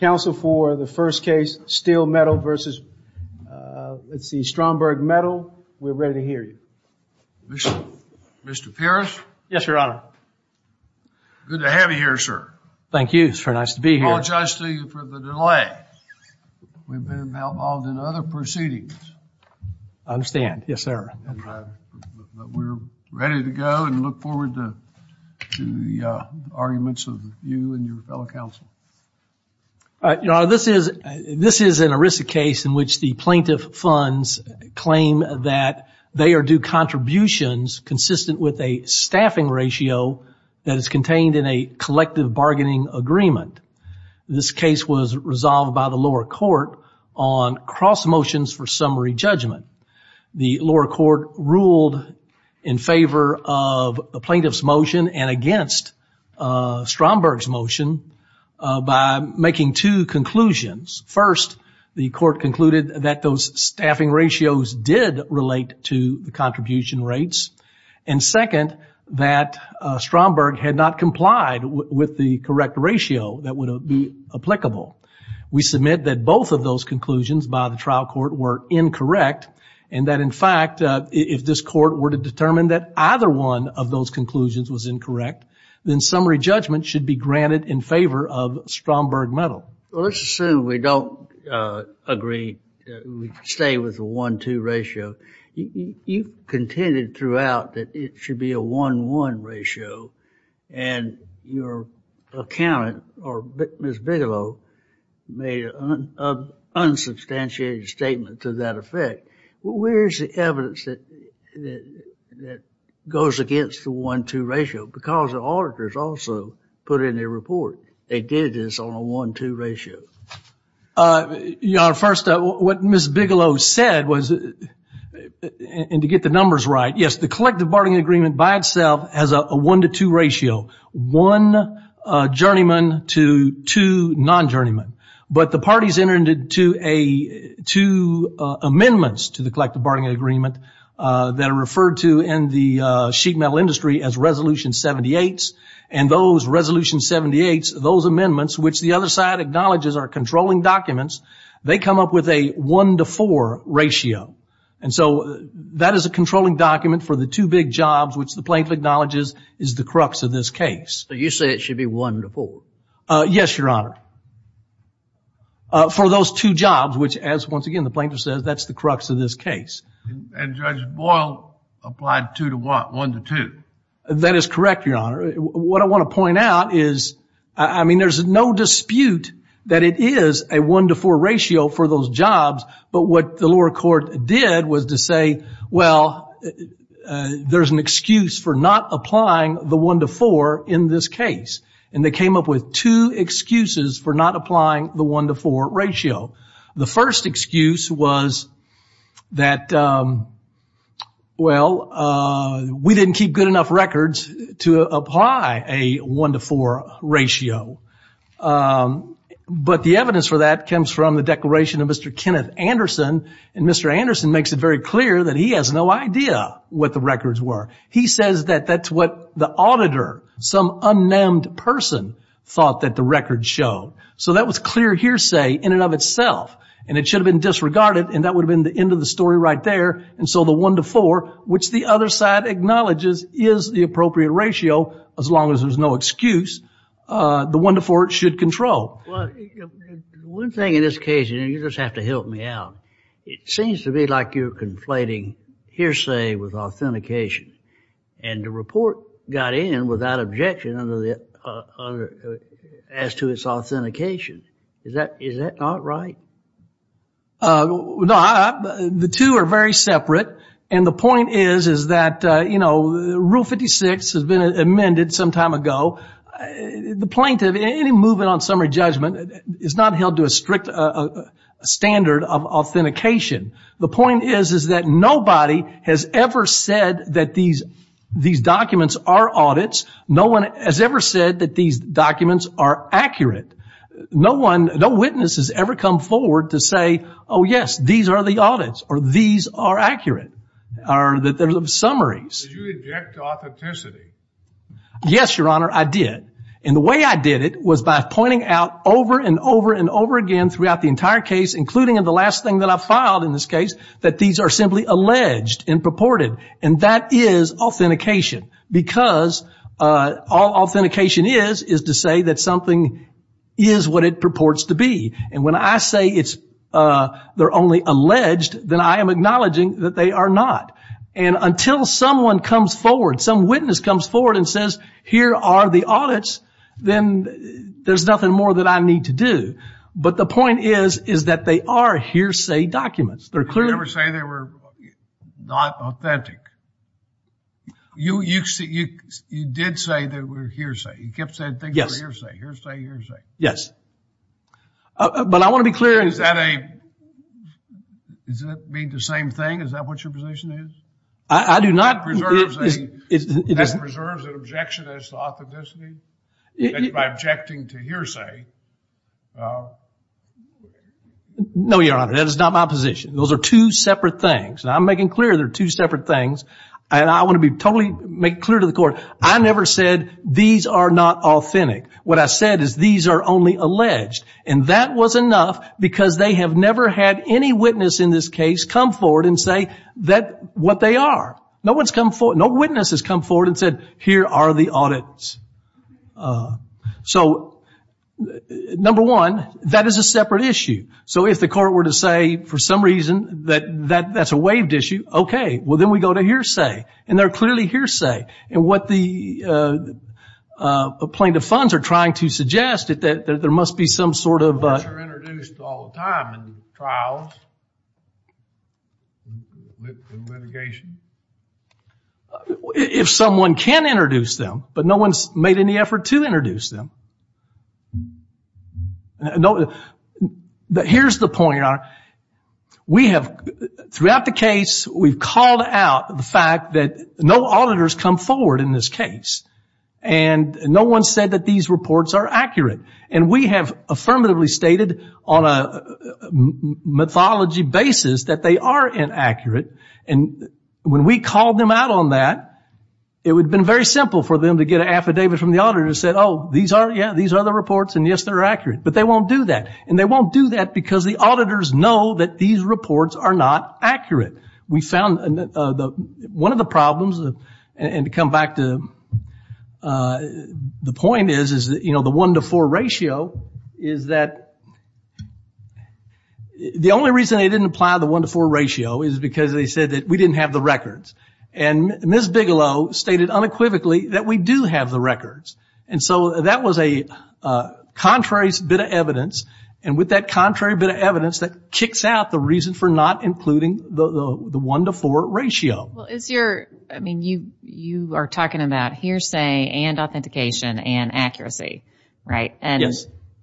Council for the first case, Steel Metal versus, let's see, Stromberg Metal, we're ready to hear you. Mr. Pierce? Yes, Your Honor. Good to have you here, sir. Thank you. It's very nice to be here. Apologize to you for the delay. We've been involved in other proceedings. I understand. Yes, sir. We're ready to go and look forward to the arguments of you and your fellow council. Your Honor, this is an ERISA case in which the plaintiff funds claim that they are due contributions consistent with a staffing ratio that is contained in a collective bargaining agreement. This case was resolved by the lower court on cross motions for summary judgment. The lower court ruled in favor of the plaintiff's motion and against Stromberg's motion by making two conclusions. First, the court concluded that those staffing ratios did relate to the contribution rates, and second, that Stromberg had not complied with the correct ratio that would be applicable. We submit that both of those conclusions by the trial court were incorrect and that, in fact, if this court were to determine that either one of those summary judgments should be granted in favor of Stromberg Metal. Well, let's assume we don't agree, we stay with the one-two ratio. You contended throughout that it should be a one-one ratio and your accountant, or Ms. Bigelow made an unsubstantiated statement to that effect. Well, where's the evidence that goes against the one-two ratio? Because the auditors also put in their report, they did this on a one-two ratio. Your Honor, first, what Ms. Bigelow said was, and to get the numbers right, yes, the collective bargaining agreement by itself has a one-to-two ratio, one journeyman to two non-journeymen, but the parties entered into two amendments to the collective bargaining agreement that are referred to in the sheet metal industry as resolution 78s, and those resolution 78s, those amendments, which the other side acknowledges are controlling documents, they come up with a one-to-four ratio. And so that is a controlling document for the two big jobs, which the plaintiff acknowledges is the crux of this case. So you say it should be one-to-four? Yes, Your Honor, for those two jobs, which as once again, the plaintiff says, that's the crux of this case. And Judge Boyle applied two to one, one to two. That is correct, Your Honor. What I want to point out is, I mean, there's no dispute that it is a one-to-four ratio for those jobs, but what the lower court did was to say, well, there's an excuse for not applying the one-to-four in this case. And they came up with two excuses for not applying the one-to-four ratio. The first excuse was that, well, we didn't keep good enough records to apply a one-to-four ratio. But the evidence for that comes from the declaration of Mr. Kenneth Anderson, and Mr. Anderson makes it very clear that he has no idea what the records were. He says that that's what the auditor, some unnamed person, thought that the records showed. So that was clear hearsay in and of itself, and it should have been disregarded, and that would have been the end of the story right there. And so the one-to-four, which the other side acknowledges is the appropriate ratio, as long as there's no excuse, the one-to-four should control. Well, one thing in this case, and you just have to help me out, it seems to be like you're conflating hearsay with authentication, and the report got in without objection as to its authentication. Is that not right? No, the two are very separate. And the point is, is that, you know, Rule 56 has been amended some time ago. The plaintiff, any movement on summary judgment is not held to a strict standard of authentication. The point is, is that nobody has ever said that these documents are audits, no one has ever said that these documents are accurate. No one, no witness has ever come forward to say, oh yes, these are the audits, or these are accurate, or that there's summaries. Did you object to authenticity? Yes, Your Honor, I did. And the way I did it was by pointing out over and over and over again throughout the entire case, including in the last thing that I filed in this case, that these are simply alleged and purported, and that is authentication, because all authentication is, is to say that something is what it purports to be. And when I say it's, they're only alleged, then I am acknowledging that they are not. And until someone comes forward, some witness comes forward and says, here are the audits, then there's nothing more that I need to do. But the point is, is that they are hearsay documents. They're clearly... Did you ever say they were not authentic? You, you, you did say they were hearsay. You kept saying things were hearsay, hearsay, hearsay. Yes. But I want to be clear. Is that a, does that mean the same thing? Is that what your position is? I do not. It preserves an objection as to authenticity, by objecting to hearsay. No, Your Honor, that is not my position. Those are two separate things. And I'm making clear they're two separate things. And I want to be totally clear to the court. I never said these are not authentic. What I said is these are only alleged. And that was enough because they have never had any witness in this case come forward and say that what they are, no one's come forward. No witness has come forward and said, here are the audits. Uh, so number one, that is a separate issue. So if the court were to say for some reason that that that's a waived issue, okay, well then we go to hearsay and they're clearly hearsay. And what the, uh, plaintiff funds are trying to suggest that there must be some sort of, uh. Courts are introduced all the time in trials, in litigation. If someone can introduce them, but no one's made any effort to introduce them. No, here's the point, Your Honor. We have throughout the case, we've called out the fact that no auditors come forward in this case. And no one said that these reports are accurate and we have affirmatively stated on a mythology basis that they are inaccurate and when we called them out on that, it would have been very simple for them to get an affidavit from the auditor and said, oh, these are, yeah, these are the reports and yes, they're accurate, but they won't do that. And they won't do that because the auditors know that these reports are not accurate. We found one of the problems and to come back to, uh, the point is, is that, you know, the one to four ratio is that the only reason they didn't apply the one to four ratio is because they said that we didn't have the records. And Ms. And so that was a, uh, contrary bit of evidence. And with that contrary bit of evidence that kicks out the reason for not including the, the, the one to four ratio. Well, is your, I mean, you, you are talking about hearsay and authentication and accuracy, right? And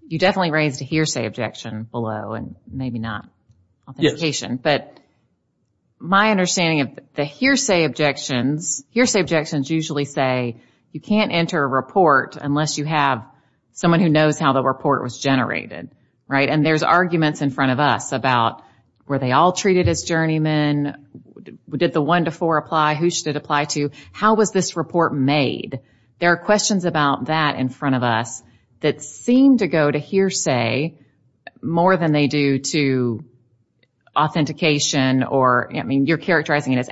you definitely raised a hearsay objection below and maybe not authentication, but my understanding of the hearsay objections, hearsay objections usually say you can't enter a report unless you have someone who knows how the report was generated, right? And there's arguments in front of us about, were they all treated as journeymen? Did the one to four apply? Who should it apply to? How was this report made? There are questions about that in front of us that seem to go to hearsay more than they do to authentication or, I mean, you're characterizing it as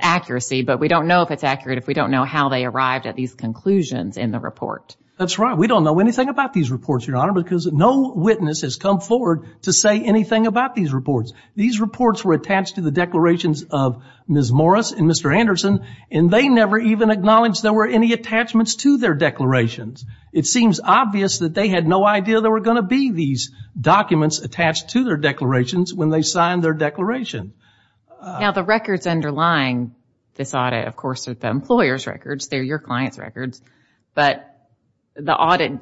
these conclusions in the report. That's right. We don't know anything about these reports, Your Honor, because no witness has come forward to say anything about these reports. These reports were attached to the declarations of Ms. Morris and Mr. Anderson, and they never even acknowledged there were any attachments to their declarations. It seems obvious that they had no idea there were going to be these documents attached to their declarations when they signed their declaration. Now the records underlying this audit, of course, are the employer's records. They're your client's records, but the audit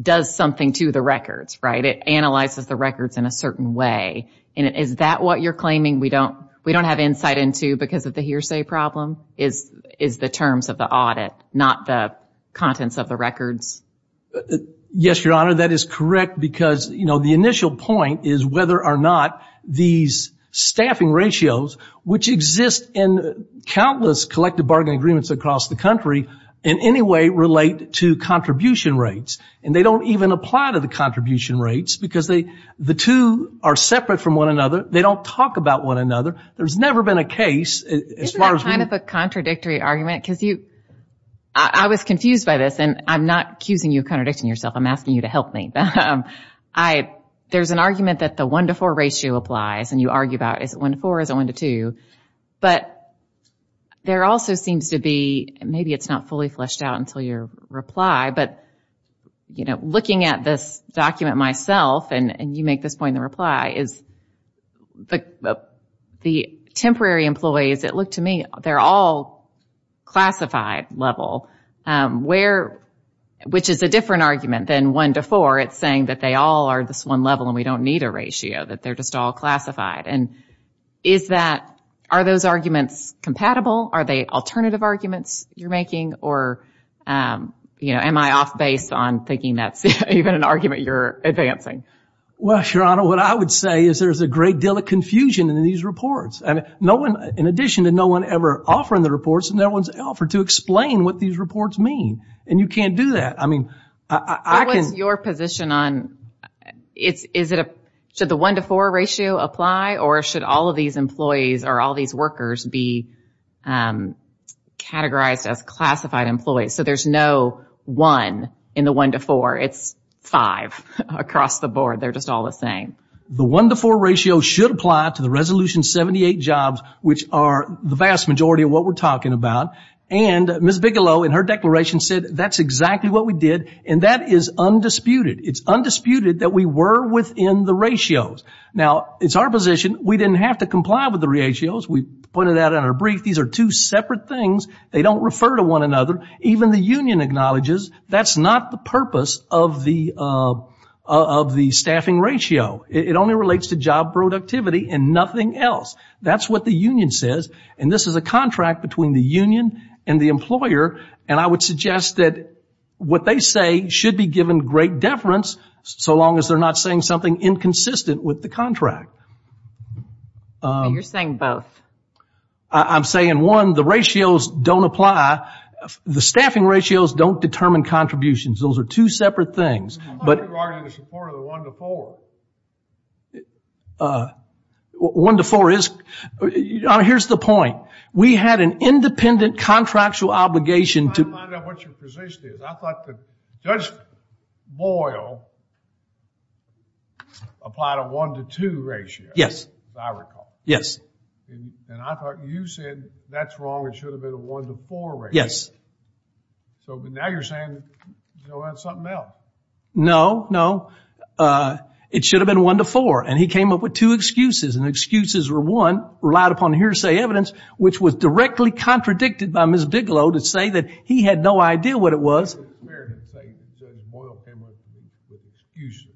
does something to the records, right? It analyzes the records in a certain way. And is that what you're claiming we don't, we don't have insight into because of the hearsay problem is, is the terms of the audit, not the contents of the records? Yes, Your Honor, that is correct because, you know, the initial point is whether or not these staffing ratios, which exist in countless collective bargain agreements across the country, in any way relate to contribution rates. And they don't even apply to the contribution rates because they, the two are separate from one another. They don't talk about one another. There's never been a case as far as we... Isn't that kind of a contradictory argument? Because you, I was confused by this and I'm not accusing you of contradicting yourself, I'm asking you to help me. I, there's an argument that the one to four ratio applies and you argue about is it one to four, is it one to two? But there also seems to be, maybe it's not fully fleshed out until your reply, but, you know, looking at this document myself and you make this point in the reply, is the temporary employees, it looked to me, they're all classified level, where, which is a different argument than one to four. It's saying that they all are this one level and we don't need a ratio, that they're just all classified. And is that, are those arguments compatible? Are they alternative arguments you're making or, you know, am I off base on thinking that's even an argument you're advancing? Well, Your Honor, what I would say is there's a great deal of confusion in these reports. I mean, no one, in addition to no one ever offering the reports, no one's offered to explain what these reports mean. And you can't do that. I mean, I can... What's your position on, it's, is it a, should the one to four ratio apply or should all of these employees or all these workers be categorized as classified employees? So there's no one in the one to four. It's five across the board. They're just all the same. The one to four ratio should apply to the resolution 78 jobs, which are the vast majority of what we're talking about. And Ms. Bigelow in her declaration said that's exactly what we did. And that is undisputed. It's undisputed that we were within the ratios. Now it's our position. We didn't have to comply with the ratios. We pointed that out in our brief. These are two separate things. They don't refer to one another. Even the union acknowledges that's not the purpose of the, of the staffing ratio. It only relates to job productivity and nothing else. That's what the union says. And this is a contract between the union and the employer. And I would suggest that what they say should be given great deference so long as they're not saying something inconsistent with the contract. You're saying both. I'm saying one, the ratios don't apply. The staffing ratios don't determine contributions. Those are two separate things. But one to four is, here's the point. We had an independent contractual obligation to... I'm trying to find out what your position is. I thought that Judge Boyle applied a one to two ratio. Yes. As I recall. Yes. And I thought you said that's wrong. It should have been a one to four ratio. Yes. So, but now you're saying, you know, that's something else. No, no. It should have been one to four. And he came up with two excuses. And excuses were one, relied upon hearsay evidence, which was directly contradicted by Ms. Bigelow to say that he had no idea what it was. I thought you were going to say that Judge Boyle came up with excuses.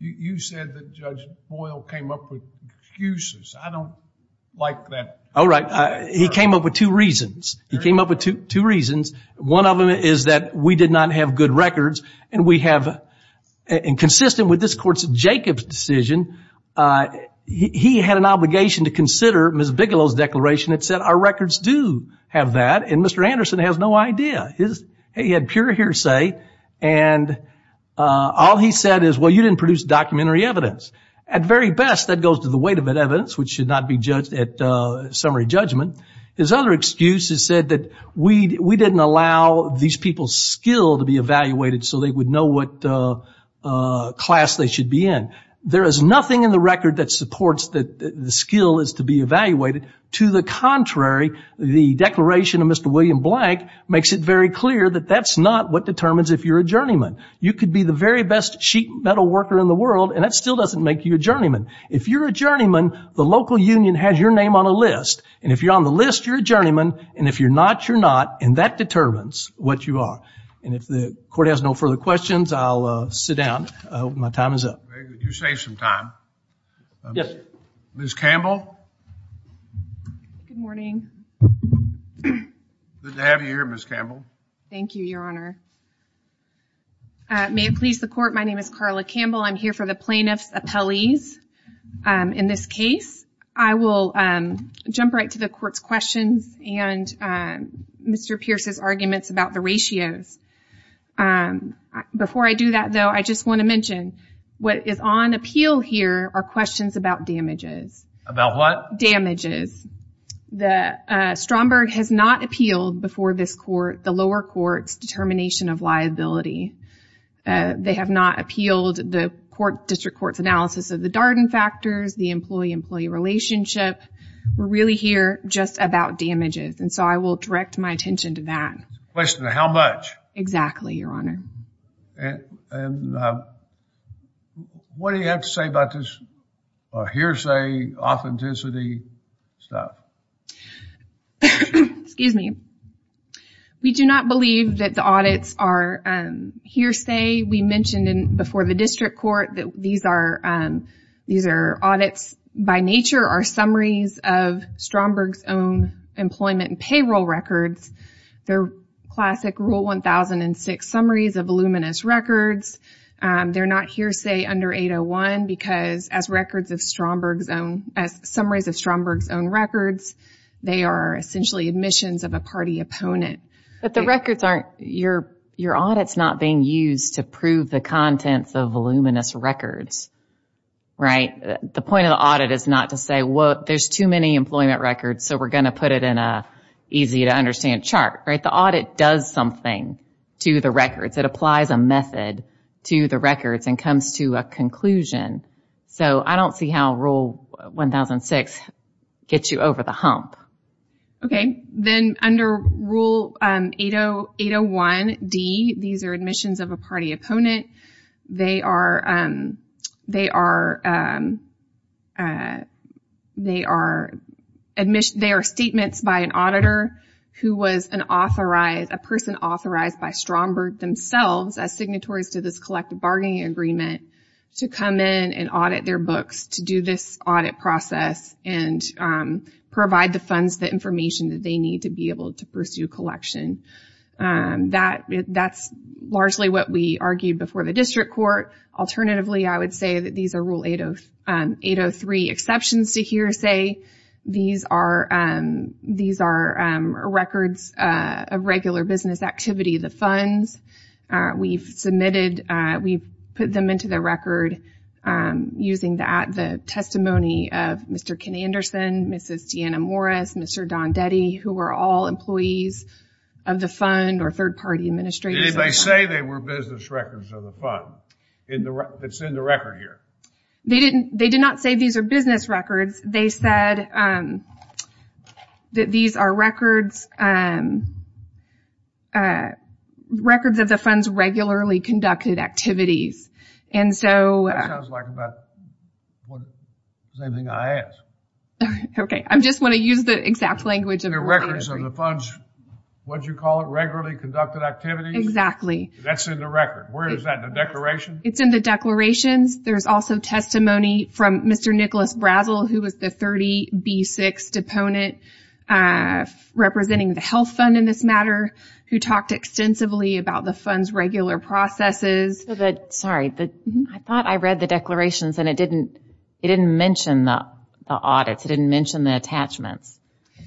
You said that Judge Boyle came up with excuses. I don't like that. Oh, right. He came up with two reasons. He came up with two reasons. One of them is that we did not have good records and we have, and consistent with this court's Jacob's decision, he had an obligation to consider Ms. Bigelow's declaration. It said our records do have that. And Mr. Anderson has no idea. His, he had pure hearsay. And all he said is, well, you didn't produce documentary evidence. At very best, that goes to the weight of that evidence, which should not be judged at summary judgment. His other excuse is said that we didn't allow these people's skill to be evaluated so they would know what class they should be in. There is nothing in the record that supports that the skill is to be evaluated. To the contrary, the declaration of Mr. William Blank makes it very clear that that's not what determines if you're a journeyman. You could be the very best sheet metal worker in the world, and that still doesn't make you a journeyman. If you're a journeyman, the local union has your name on a list. And if you're on the list, you're a journeyman. And if you're not, you're not. And that determines what you are. And if the court has no further questions, I'll sit down. I hope my time is up. You saved some time. Yes. Ms. Campbell. Good morning. Good to have you here, Ms. Campbell. Thank you, Your Honor. May it please the court. My name is Carla Campbell. I'm here for the plaintiff's appellees. In this case, I will jump right to the court's questions and Mr. Pierce's arguments about the ratios. Before I do that, though, I just want to mention what is on appeal here are questions about damages. About what? Damages. The Stromberg has not appealed before this court, the lower court's determination of liability. They have not appealed the court district court's analysis of the Darden factors, the employee-employee relationship. We're really here just about damages. And so I will direct my attention to that. Question, how much? Exactly, Your Honor. And what do you have to say about this hearsay, authenticity stuff? Excuse me. We do not believe that the audits are hearsay. We mentioned before the district court that these are audits by nature are summaries of Stromberg's own employment and payroll records. They're classic rule 1006 summaries of voluminous records. They're not hearsay under 801 because as records of Stromberg's own, as summaries of Stromberg's own records, they are essentially admissions of a party opponent. But the records aren't, your audit's not being used to prove the contents of voluminous records, right? The point of the audit is not to say, well, there's too many employment records, so we're going to put it in a easy to understand chart, right? The audit does something to the records. It applies a method to the records and comes to a conclusion. So I don't see how rule 1006 gets you over the hump. Okay. Then under rule 801D, these are admissions of a party opponent. They are statements by an auditor who was an authorized, a person authorized by Stromberg themselves as signatories to this collective bargaining agreement to come in and audit their books, to do this audit process and provide the funds, the information that they need to be able to pursue collection. That's largely what we argued before the district court. Alternatively, I would say that these are rule 803 exceptions to hearsay. These are records of regular business activity. The funds we've submitted, we've put them into the record using the testimony of Mr. Ken Anderson, Mrs. Deanna Morris, Mr. Don Detty, who were all employees of the fund or third party administrators. Did they say they were business records of the fund that's in the record here? They didn't, they did not say these are business records. They said that these are records, records of the funds regularly conducted activities. And so... That sounds like about the same thing I asked. Okay. I'm just want to use the exact language of... The records of the funds, what did you call it? Regularly conducted activities? Exactly. That's in the record. Where is that? In the declaration? It's in the declarations. There's also testimony from Mr. Nicholas Brazel, who was the 30B6 deponent representing the health fund in this matter, who talked extensively about the fund's regular processes. Sorry, I thought I read the declarations and it didn't mention the audits. It didn't mention the attachments.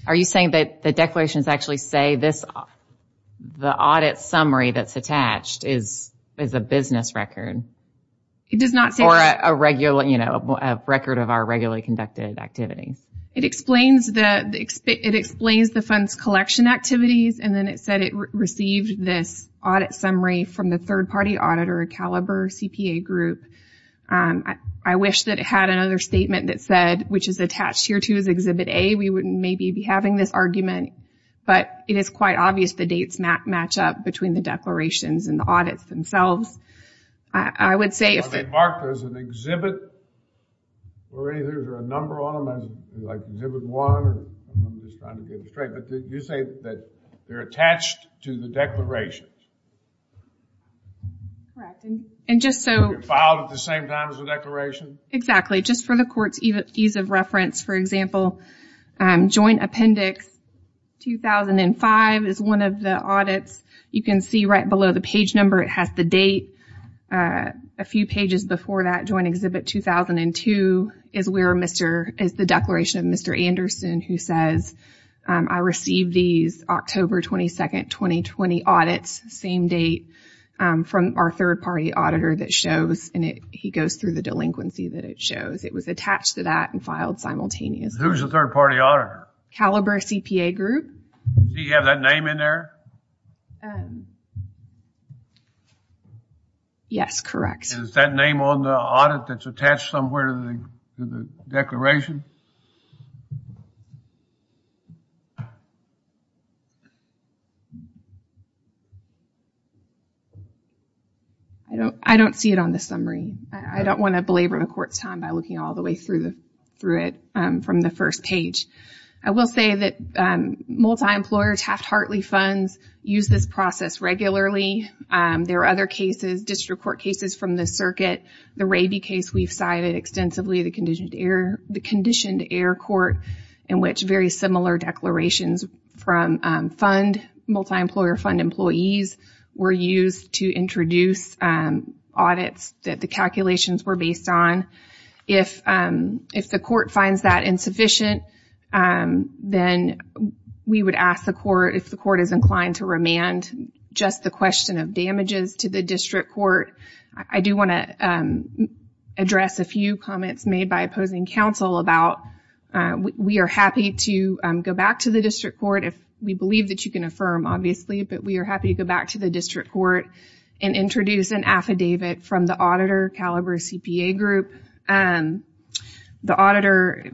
Are you saying that the declarations actually say this, the audit summary that's attached is a business record? It does not say... Or a regular, you know, a record of our regularly conducted activities. It explains the, it explains the fund's collection activities. And then it said it received this audit summary from the third party auditor, Caliber CPA group. I wish that it had another statement that said, which is attached here to his Exhibit A, we wouldn't maybe be having this argument, but it is quite obvious the dates match up between the declarations and the audits themselves. I would say... Well, they mark there as an exhibit or either a number on them, like Exhibit One, or I'm just trying to get it straight. But did you say that they're attached to the declarations? Correct. And just so... At the same time as the declaration? Exactly. Just for the court's ease of reference. For example, Joint Appendix 2005 is one of the audits. You can see right below the page number, it has the date. A few pages before that Joint Exhibit 2002 is where Mr., is the declaration of Mr. Anderson, who says, I received these October 22nd, 2020 audits. Same date from our third-party auditor that shows, and he goes through the delinquency that it shows. It was attached to that and filed simultaneously. Who's the third-party auditor? Caliber CPA Group. Do you have that name in there? Yes, correct. Is that name on the audit that's attached somewhere to the declaration? I don't see it on the summary. I don't want to belabor the court's time by looking all the way through it from the first page. I will say that multi-employer Taft-Hartley funds use this process regularly. There are other cases, district court cases from the circuit. The Raby case we've cited extensively, the Conditioned Error Court, in which multi-employer fund employees were used to introduce audits that the calculations were based on. If the court finds that insufficient, then we would ask the court, if the court is inclined to remand, just the question of damages to the district court. I do want to address a few comments made by opposing counsel about, we are happy to go back to the district court, if we believe that you can affirm, obviously, but we are happy to go back to the district court and introduce an affidavit from the auditor, Caliber CPA Group, the auditor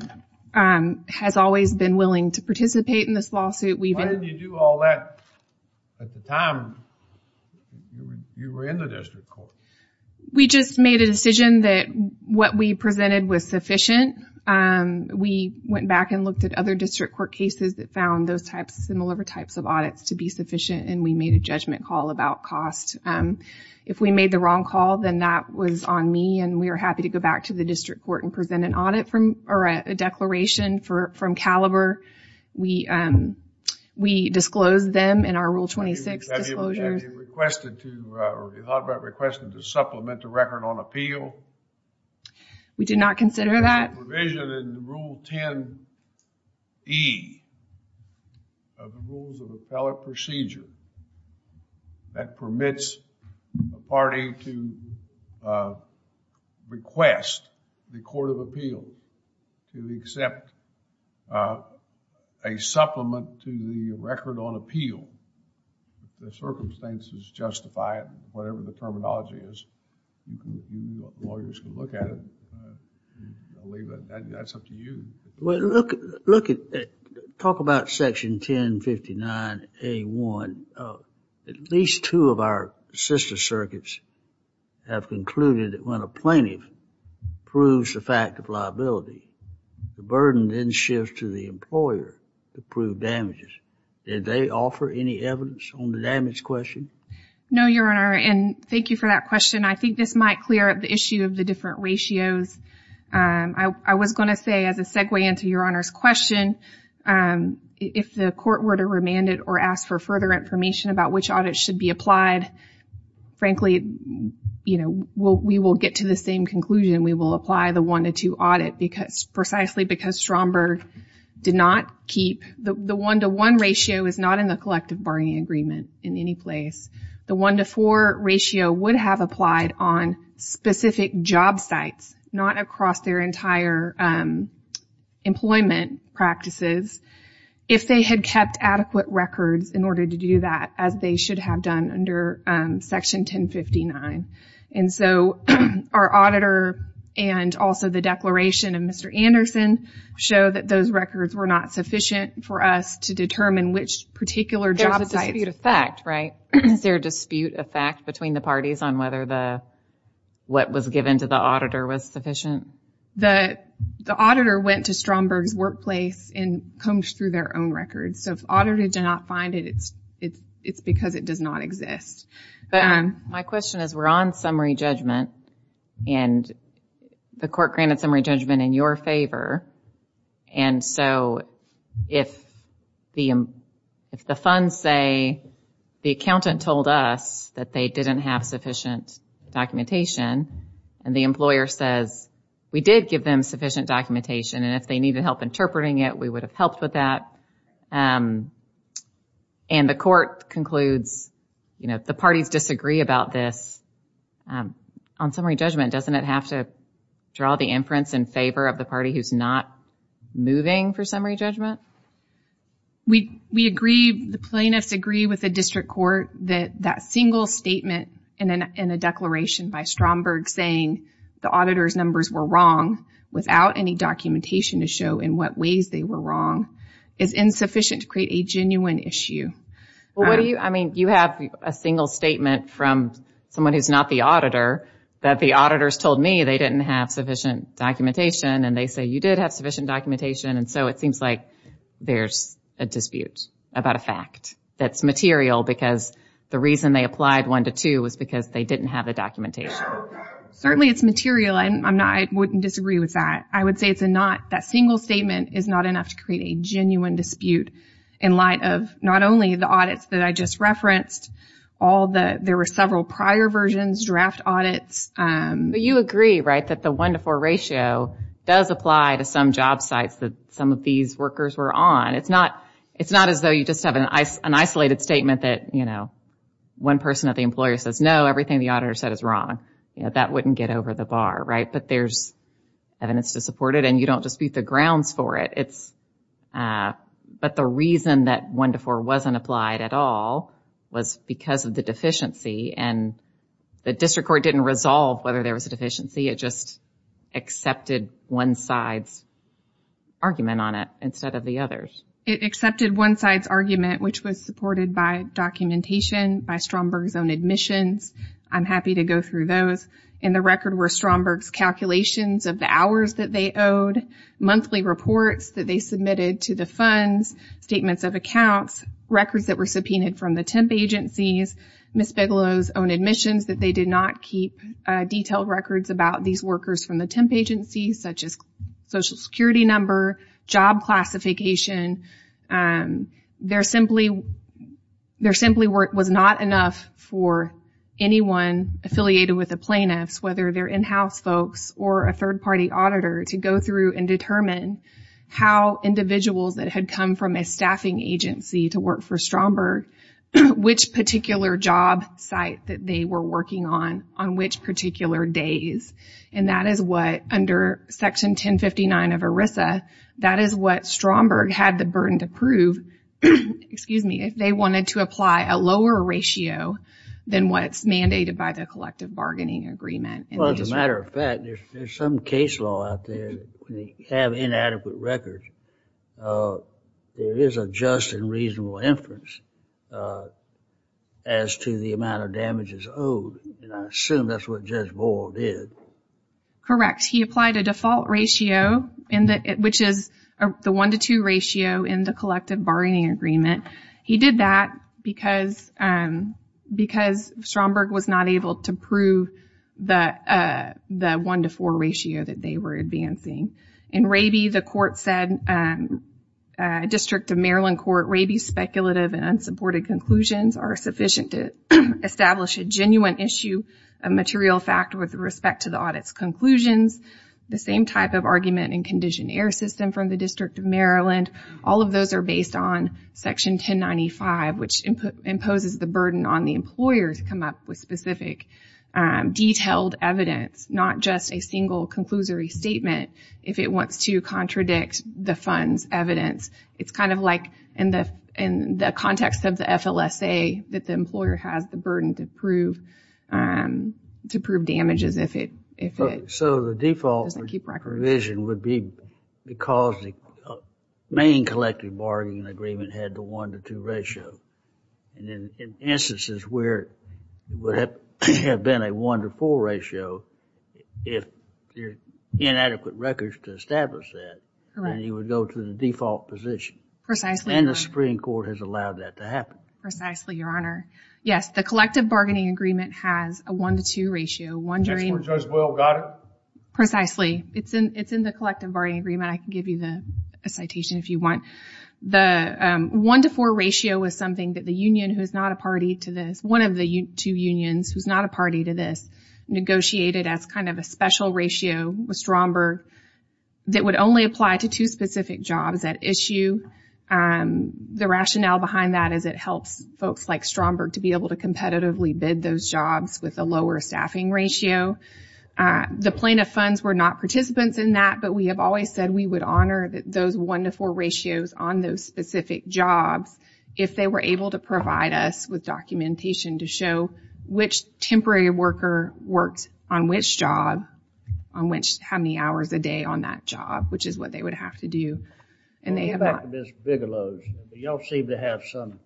has always been willing to participate in this lawsuit. We've- Why didn't you do all that at the time you were in the district court? We just made a decision that what we presented was sufficient. We went back and looked at other district court cases that found those types, similar types of audits to be sufficient, and we made a judgment call about cost, if we made the wrong call, then that was on me, and we are happy to go back to the district court and present an audit from, or a declaration from Caliber. We, we disclosed them in our Rule 26 disclosures. Have you requested to, or have you thought about requesting to supplement the record on appeal? We did not consider that. There's a provision in Rule 10E of the rules of appellate procedure that permits a party to request the court of appeal to accept a supplement to the record on appeal, if the circumstances justify it, whatever the terminology is, lawyers can look at it, I'll leave that, that's up to you. Well, look, look at, talk about section 1059A1, at least two of our sister circuits have concluded that when a plaintiff proves the fact of liability, the burden then shifts to the employer to prove damages. Did they offer any evidence on the damage question? No, Your Honor. And thank you for that question. I think this might clear up the issue of the different ratios. Um, I, I was going to say as a segue into Your Honor's question, um, if the court were to remand it or ask for further information about which audit should be applied, frankly, you know, we'll, we will get to the same conclusion, we will apply the one to two audit because, precisely because Stromberg did not keep the, the one to one ratio is not in the collective bargaining agreement in any place. The one to four ratio would have applied on specific job sites, not across their entire, um, employment practices, if they had kept adequate records in order to do that, as they should have done under, um, section 1059. And so our auditor and also the declaration of Mr. Anderson show that those records were not sufficient for us to determine which particular job site. There's a dispute of fact, right? Is there a dispute of fact between the parties on whether the, what was given to the auditor was sufficient? The, the auditor went to Stromberg's workplace and combed through their own records. So if audited did not find it, it's, it's, it's because it does not exist. But my question is we're on summary judgment and the court granted summary judgment in your favor. And so if the, if the funds say the accountant told us that they didn't have sufficient documentation and the employer says we did give them sufficient documentation and if they needed help interpreting it, we would have helped with that. Um, and the court concludes, you know, the parties disagree about this. Um, on summary judgment, doesn't it have to draw the inference in favor of the moving for summary judgment? We, we agree. The plaintiffs agree with the district court that that single statement in an, in a declaration by Stromberg saying the auditor's numbers were wrong without any documentation to show in what ways they were wrong is insufficient to create a genuine issue. Well, what do you, I mean, you have a single statement from someone who's not the auditor that the auditors told me they didn't have sufficient documentation. And so it seems like there's a dispute about a fact that's material because the reason they applied one to two was because they didn't have the documentation. Certainly it's material. I'm not, I wouldn't disagree with that. I would say it's a not, that single statement is not enough to create a genuine dispute in light of not only the audits that I just referenced, all the, there were several prior versions, draft audits, um, but you agree, right? That the one to four ratio does apply to some job sites that some of these workers were on. It's not, it's not as though you just have an isolated statement that, you know, one person at the employer says, no, everything the auditor said is wrong. You know, that wouldn't get over the bar, right? But there's evidence to support it and you don't just beat the grounds for it. It's, uh, but the reason that one to four wasn't applied at all was because of the deficiency and the district court didn't resolve whether there was a deficiency. It just accepted one side's argument on it instead of the others. It accepted one side's argument, which was supported by documentation, by Stromberg's own admissions. I'm happy to go through those. In the record were Stromberg's calculations of the hours that they owed, monthly reports that they submitted to the funds, statements of accounts, records that were subpoenaed from the temp agencies, Ms. workers from the temp agencies, such as social security number, job classification. Um, there simply, there simply was not enough for anyone affiliated with the plaintiffs, whether they're in-house folks or a third party auditor to go through and determine how individuals that had come from a staffing agency to work for Stromberg, which particular job site that they were working on, on which particular days. And that is what under section 1059 of ERISA, that is what Stromberg had the burden to prove, excuse me, if they wanted to apply a lower ratio than what's mandated by the collective bargaining agreement. Well, as a matter of fact, there's some case law out there, that when they have inadequate records, uh, there is a just and reasonable inference, uh, as to the amount of damages owed. And I assume that's what Judge Boyle did. Correct. He applied a default ratio in the, which is the one to two ratio in the collective bargaining agreement. He did that because, um, because Stromberg was not able to prove the, uh, the one to four ratio that they were advancing. In Raby, the court said, um, uh, District of Maryland Court, Raby's speculative and unsupported conclusions are sufficient to establish a genuine issue, a material fact with respect to the audit's conclusions. The same type of argument and condition error system from the District of Maryland. All of those are based on section 1095, which imposes the burden on the employer to come up with specific, um, detailed evidence, not just a single conclusory statement, if it wants to contradict the fund's evidence. It's kind of like in the, in the context of the FLSA that the employer has the burden to prove, um, to prove damages if it, if it doesn't keep records. So the default provision would be because the main collective bargaining agreement had the one to two ratio. And in instances where it would have been a one to four ratio, if there's inadequate records to establish that, then he would go to the default position. Precisely. And the Supreme Court has allowed that to happen. Precisely, Your Honor. Yes. The collective bargaining agreement has a one to two ratio. One during- That's where Judge Will got it? Precisely. It's in, it's in the collective bargaining agreement. I can give you the, a citation if you want. The, um, one to four ratio was something that the union, who is not a party to this, one of the two unions who's not a party to this, negotiated as kind of a special ratio with Stromberg that would only apply to two specific jobs at issue. Um, the rationale behind that is it helps folks like Stromberg to be able to competitively bid those jobs with a lower staffing ratio. Uh, the plaintiff funds were not participants in that, but we have always said we would honor those one to four ratios on those specific jobs if they were able to provide us with documentation to show which temporary worker worked on which job, on which, how many hours a day on that job, which is what they would have to do, and they have not- Well, get back to Ms. Bigelow's. Y'all seem to have some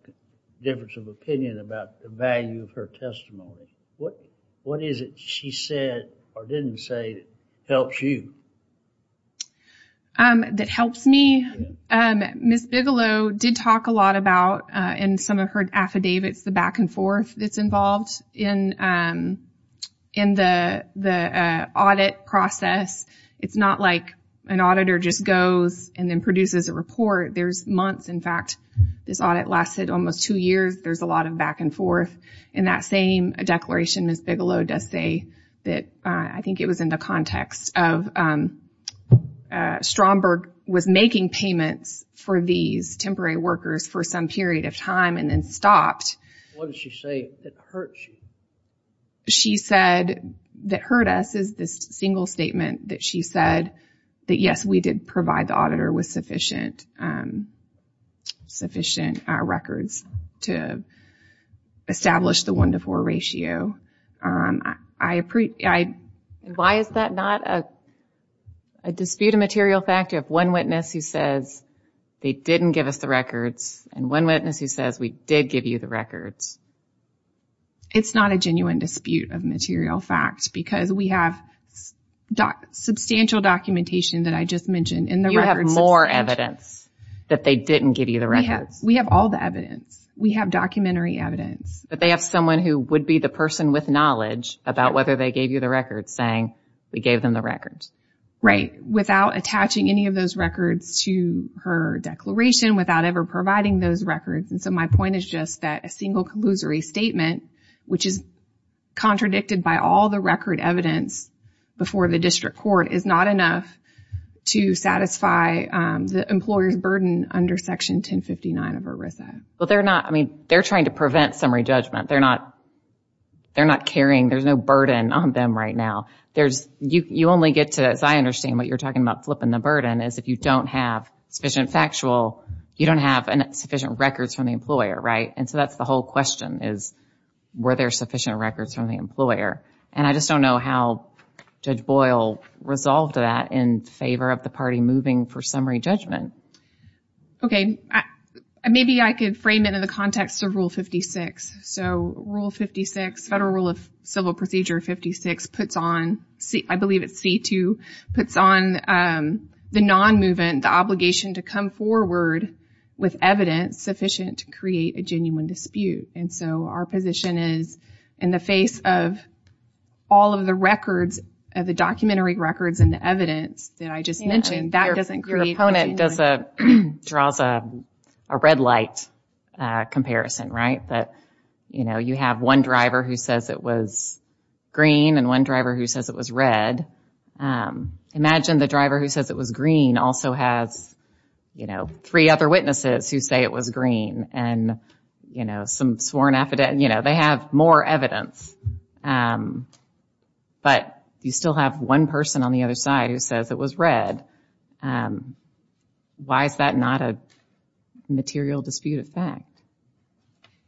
difference of opinion about the value of her testimony. What, what is it she said or didn't say helps you? Um, that helps me? Um, Ms. Bigelow did talk a lot about, uh, in some of her affidavits, the back and forth that's involved in, um, in the, the, uh, audit process. It's not like an auditor just goes and then produces a report. There's months. In fact, this audit lasted almost two years. There's a lot of back and forth. In that same declaration, Ms. Bigelow does say that, uh, I think it was in the context of, um, uh, Stromberg was making payments for these temporary workers for some period of time and then stopped. What did she say that hurt you? She said that hurt us is this single statement that she said that, yes, we did provide the auditor with sufficient, um, sufficient, uh, records to establish the one to four ratio. Um, I, I, why is that not a, a dispute of material fact? You have one witness who says they didn't give us the records and one witness who says we did give you the records. It's not a genuine dispute of material facts because we have doc, substantial documentation that I just mentioned in the records. You have more evidence that they didn't give you the records. We have all the evidence. We have documentary evidence. But they have someone who would be the person with knowledge about whether they gave you the records saying we gave them the records. Right. Without attaching any of those records to her declaration, without ever providing those records. And so my point is just that a single collusory statement, which is contradicted by all the record evidence before the district court is not enough to satisfy, um, the employer's burden under section 1059 of ERISA. Well, they're not, I mean, they're trying to prevent summary judgment. They're not, they're not carrying, there's no burden on them right now. There's, you, you only get to, as I understand what you're talking about flipping the burden is if you don't have sufficient factual, you don't have sufficient records from the employer. Right. And so that's the whole question is, were there sufficient records from the employer? And I just don't know how Judge Boyle resolved that in favor of the party moving for summary judgment. Okay. Maybe I could frame it in the context of rule 56. So rule 56, federal rule of civil procedure 56 puts on, I believe it's C2, puts on, um, the non-movement, the obligation to come forward with evidence sufficient to create a genuine dispute. And so our position is in the face of all of the records, of the documentary records and the evidence that I just mentioned, that doesn't create. Your opponent does a, draws a, a red light, uh, comparison, right? That, you know, you have one driver who says it was green and one driver who says it was red. Um, imagine the driver who says it was green also has, you know, three other witnesses who say it was green and, you know, some sworn affidavit, you know, they have more evidence. Um, but you still have one person on the other side who says it was red. Um, why is that not a material dispute of fact?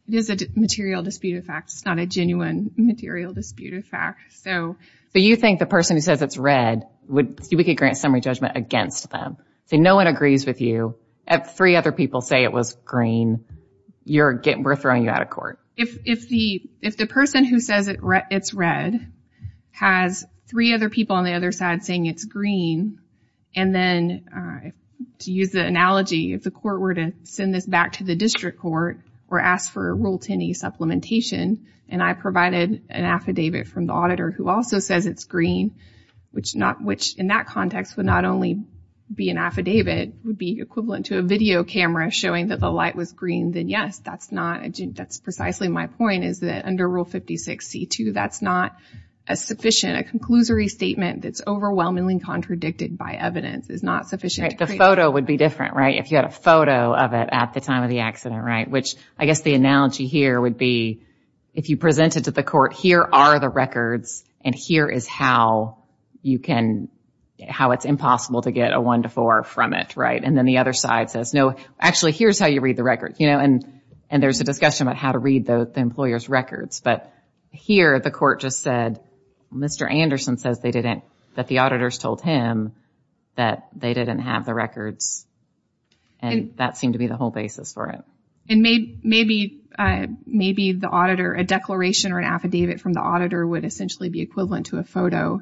It is a material dispute of fact. It's not a genuine material dispute of fact. So, so you think the person who says it's red would, we could grant summary judgment against them. So no one agrees with you. If three other people say it was green, you're getting, we're throwing you out of court. If, if the, if the person who says it's red has three other people on the other side saying it's green, and then, uh, to use the analogy, if the court were to send this back to the district court or ask for a Rule 10e supplementation, and I who also says it's green, which not, which in that context would not only be an affidavit, would be equivalent to a video camera showing that the light was green, then yes, that's not a, that's precisely my point is that under Rule 56c2, that's not a sufficient, a conclusory statement that's overwhelmingly contradicted by evidence is not sufficient. The photo would be different, right? If you had a photo of it at the time of the accident, right? Which I guess the analogy here would be, if you present it to the court, here are the records and here is how you can, how it's impossible to get a one to four from it, right? And then the other side says, no, actually, here's how you read the record, you know, and, and there's a discussion about how to read the employer's records. But here, the court just said, Mr. Anderson says they didn't, that the auditors told him that they didn't have the records and that seemed to be the whole basis for it. And maybe, maybe, uh, maybe the auditor, a declaration or an affidavit from the auditor would essentially be equivalent to a photo.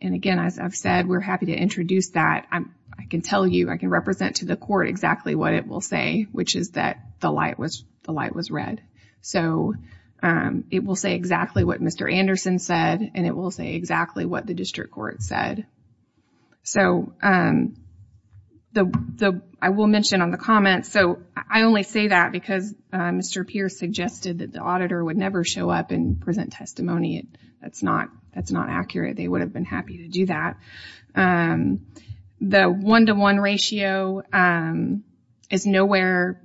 And again, as I've said, we're happy to introduce that. I'm, I can tell you, I can represent to the court exactly what it will say, which is that the light was, the light was red. So, um, it will say exactly what Mr. Anderson said, and it will say exactly what the district court said. So, um, the, the, I will mention on the comments. So I only say that because, uh, Mr. Pierce suggested that the auditor would never show up and present testimony. It, that's not, that's not accurate. They would have been happy to do that. Um, the one-to-one ratio, um, is nowhere.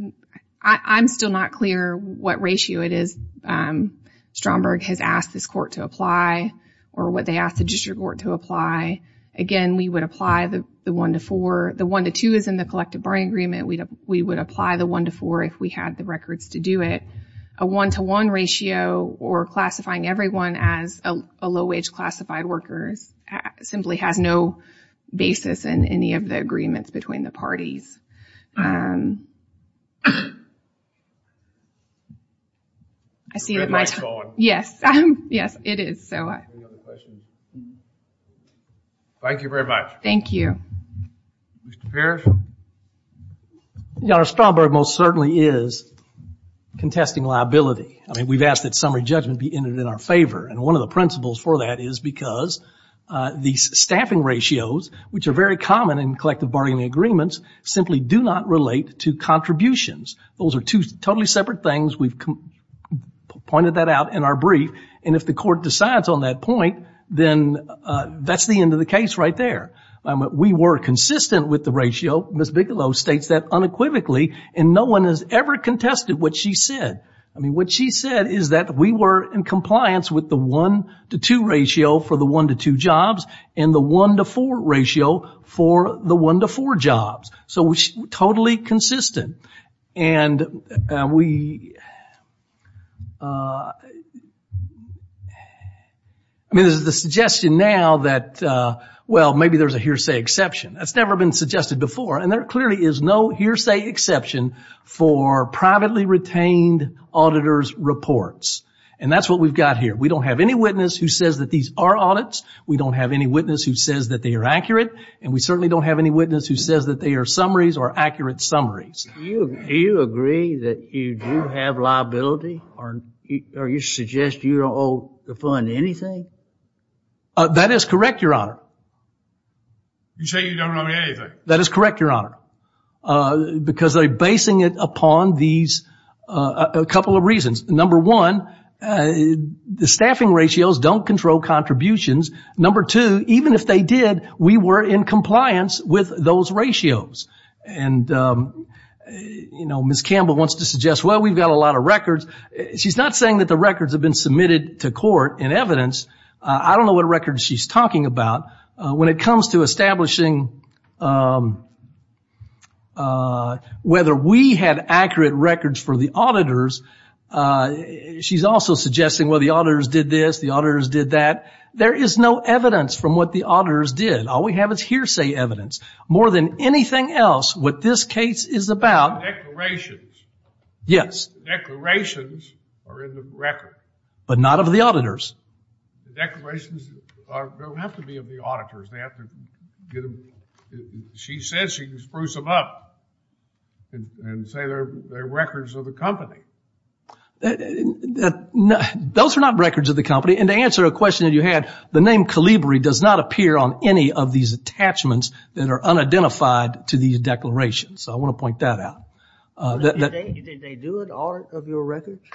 I, I'm still not clear what ratio it is. Um, Stromberg has asked this court to apply or what they asked the district court to apply. Again, we would apply the, the one-to-four, the one-to-two is in the collective bargaining agreement. We would apply the one-to-four if we had the records to do it. A one-to-one ratio or classifying everyone as a low-wage classified workers simply has no basis in any of the agreements between the parties. Um, I see that my time, yes, yes, it is. So, uh, thank you very much. Thank you. Mr. Pierce. Yeah, Stromberg most certainly is contesting liability. I mean, we've asked that summary judgment be entered in our favor. And one of the principles for that is because, uh, the staffing ratios, which are very common in collective bargaining agreements, simply do not relate to contributions. Those are two totally separate things. We've pointed that out in our brief. And if the court decides on that point, then, uh, that's the end of the case right there. Um, we were consistent with the ratio. Ms. Bigelow states that unequivocally and no one has ever contested what she said. I mean, what she said is that we were in compliance with the one-to-two ratio for the one-to-two jobs and the one-to-four ratio for the one-to-four jobs. So we're totally consistent. And, uh, we, uh, I mean, this is the suggestion now that, uh, well, maybe there's a hearsay exception. That's never been suggested before. And there clearly is no hearsay exception for privately retained auditor's reports. And that's what we've got here. We don't have any witness who says that these are audits. We don't have any witness who says that they are accurate. And we certainly don't have any witness who says that they are summaries or accurate summaries. Do you agree that you do have liability or you suggest you don't owe the fund anything? Uh, that is correct, Your Honor. You say you don't owe me anything. That is correct, Your Honor. Uh, because they're basing it upon these, uh, a couple of reasons. Number one, uh, the staffing ratios don't control contributions. Number two, even if they did, we were in compliance with those ratios. And, um, you know, Ms. Campbell wants to suggest, well, we've got a lot of records. She's not saying that the records have been submitted to court in evidence. Uh, I don't know what records she's talking about. Uh, when it comes to establishing, um, uh, whether we had accurate records for the auditors, uh, she's also suggesting, well, the auditors did this, the auditors did that. There is no evidence from what the auditors did. All we have is hearsay evidence. More than anything else, what this case is about. Declarations. Yes. Declarations are in the record. But not of the auditors. Declarations are, don't have to be of the auditors. They have to get them, she says she can spruce them up and say they're, they're records of the company. Uh, those are not records of the company. And to answer a question that you had, the name Calibri does not appear on any of these attachments that are unidentified to these declarations. So I want to point that out. Uh, did they, did they do it, all of your records?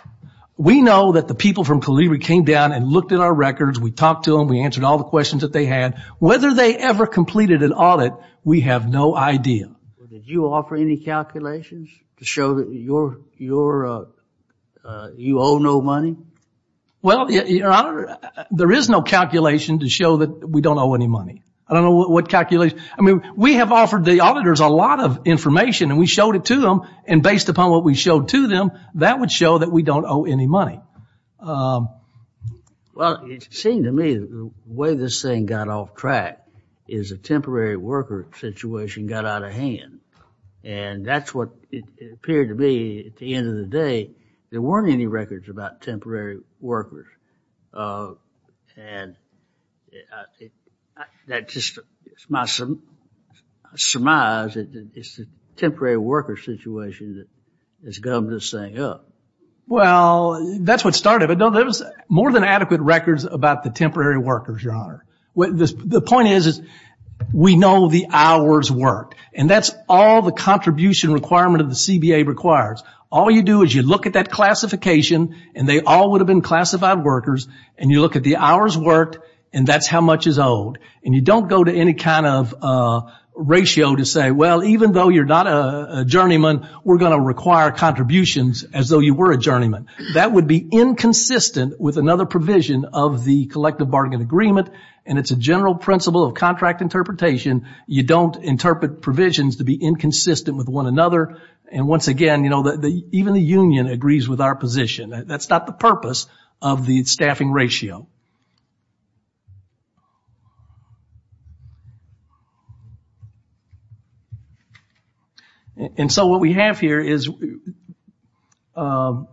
We know that the people from Calibri came down and looked at our records. We talked to them. We answered all the questions that they had. Whether they ever completed an audit, we have no idea. Did you offer any calculations to show that your, your, uh, uh, you owe no money? Well, there is no calculation to show that we don't owe any money. I don't know what calculation, I mean, we have offered the auditors a lot of information and we showed it to them. And based upon what we showed to them, that would show that we don't owe any money. Um. Well, it seemed to me the way this thing got off track is a temporary worker situation got out of hand. And that's what it appeared to me at the end of the day, there weren't any records about temporary workers. Uh, and that just, it's my surmise that it's a temporary worker situation that has gotten this thing up. Well, that's what started it. But no, there was more than adequate records about the temporary workers, Your Honor. What the point is, is we know the hours worked and that's all the contribution requirement of the CBA requires. All you do is you look at that classification and they all would have been classified workers and you look at the hours worked and that's how much is owed and you don't go to any kind of, uh, ratio to say, well, even though you're not a journeyman, we're going to require contributions as though you were a journeyman, that would be inconsistent with another provision of the collective bargain agreement and it's a general principle of contract interpretation. You don't interpret provisions to be inconsistent with one another. And once again, you know, the, the, even the union agrees with our position. That's not the purpose of the staffing ratio. And so what we have here is, um,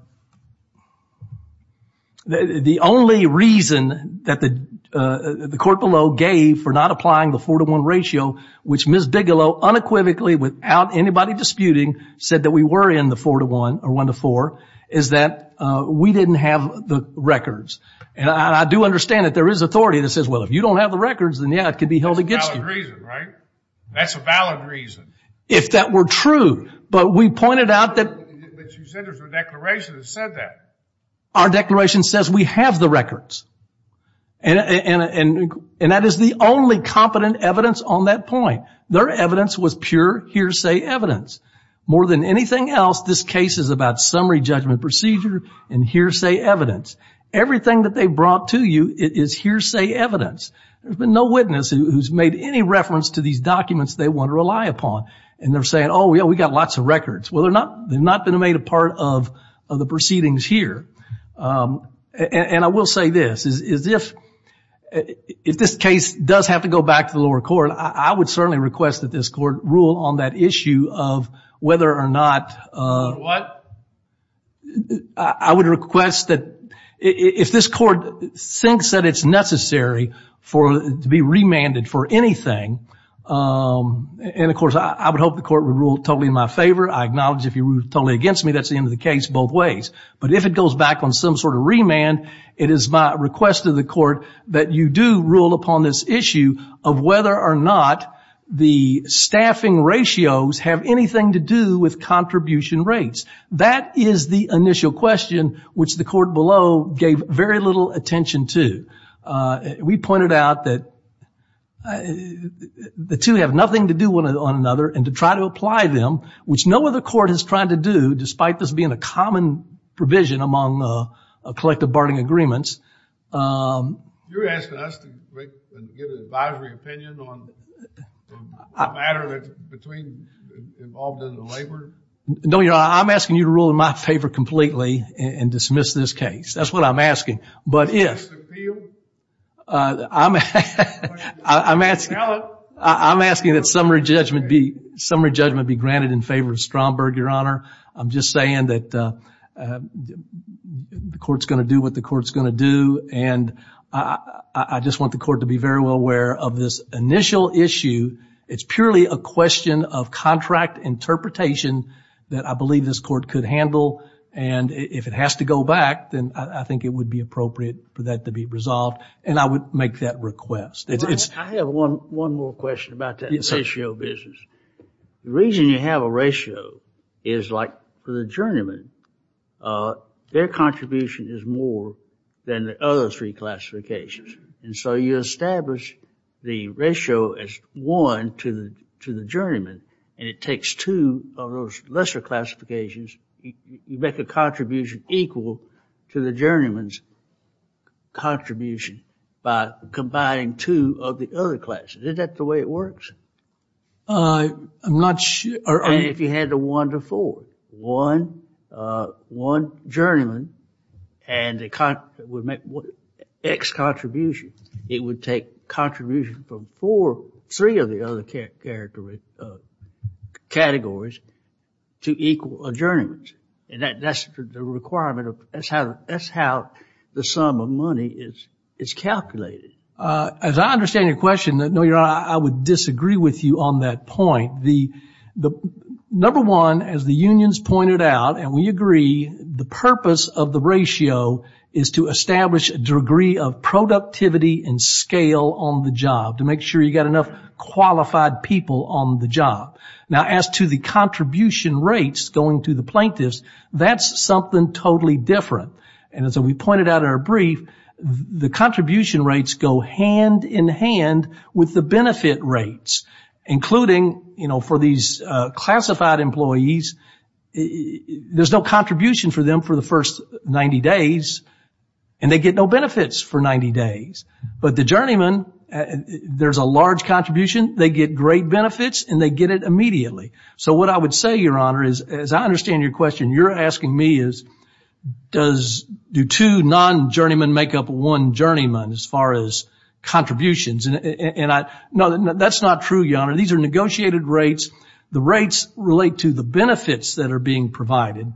the, the only reason that the, uh, the court below gave for not applying the four to one ratio, which Ms. Bigelow unequivocally without anybody disputing said that we were in the four to one or one to four is that, uh, we didn't have the records and I do understand that there is authority that says, well, if you don't have the records, then yeah, it could be held against you. That's a valid reason, right? That's a valid reason. If that were true, but we pointed out that our declaration says we have the records and, and, and, and that is the only competent evidence on that point. Their evidence was pure hearsay evidence. More than anything else, this case is about summary judgment procedure and hearsay evidence. Everything that they brought to you is hearsay evidence. There's been no witness who's made any reference to these and they're saying, oh yeah, we got lots of records. Well, they're not, they've not been made a part of the proceedings here. Um, and I will say this is, is if, if this case does have to go back to the lower court, I would certainly request that this court rule on that issue of whether or not, uh, I would request that if this court thinks that it's necessary for, to be remanded for anything, um, and of course I would hope the court would rule totally in my favor. I acknowledge if you rule totally against me, that's the end of the case both ways. But if it goes back on some sort of remand, it is my request to the court that you do rule upon this issue of whether or not the staffing ratios have anything to do with contribution rates. That is the initial question, which the court below gave very little attention to. Uh, we pointed out that the two have nothing to do with one another and to try to apply them, which no other court has tried to do, despite this being a common provision among, uh, collective barting agreements. Um. You're asking us to get an advisory opinion on the matter that's between, involved in the labor? No, you're not. I'm asking you to rule in my favor completely and dismiss this case. That's what I'm asking. But if, uh, I'm, I'm asking, I'm asking that summary judgment be, summary judgment be granted in favor of Stromberg, Your Honor. I'm just saying that, uh, the court's going to do what the court's going to do. And I just want the court to be very well aware of this initial issue. It's purely a question of contract interpretation that I believe this court could handle. And if it has to go back, then I think it would be appropriate for that to be resolved. And I would make that request. I have one, one more question about that ratio business. The reason you have a ratio is like for the journeyman, uh, their contribution is more than the other three classifications. And so you establish the ratio as one to the, to the journeyman, and it takes two of those lesser classifications, you make a contribution equal to the journeyman's contribution by combining two of the other classes. Is that the way it works? Uh, I'm not sure. And if you had a one to four, one, uh, one journeyman and the contra, would make X contribution. It would take contribution from four, three of the other character, uh, categories to equal a journeyman's. And that that's the requirement of, that's how, that's how the sum of money is, is calculated. Uh, as I understand your question, no, Your Honor, I would disagree with you on that point. The, the number one, as the unions pointed out, and we agree, the purpose of the ratio is to establish a degree of productivity and scale on the job to make sure you've got enough qualified people on the job. Now, as to the contribution rates going to the plaintiffs, that's something totally different. And as we pointed out in our brief, the contribution rates go hand in hand with the benefit rates, including, you know, for these, uh, classified employees, there's no contribution for them for the first 90 days and they get no benefits for 90 days. But the journeyman, there's a large contribution. They get great benefits and they get it immediately. So what I would say, Your Honor, is, as I understand your question, you're asking me is, does, do two non-journeymen make up one journeyman as far as contributions? And I, no, that's not true, Your Honor. These are negotiated rates. The rates relate to the benefits that are being provided.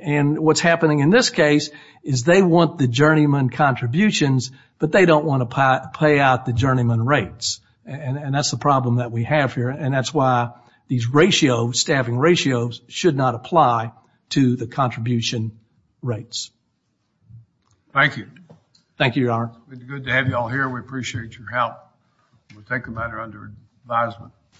And what's happening in this case is they want the journeyman contributions, but they don't want to pay out the journeyman rates. And that's the problem that we have here. And that's why these ratios, staffing ratios, should not apply to the contribution rates. Thank you. Thank you, Your Honor. It's good to have you all here. We appreciate your help. We'll take a matter under advisement.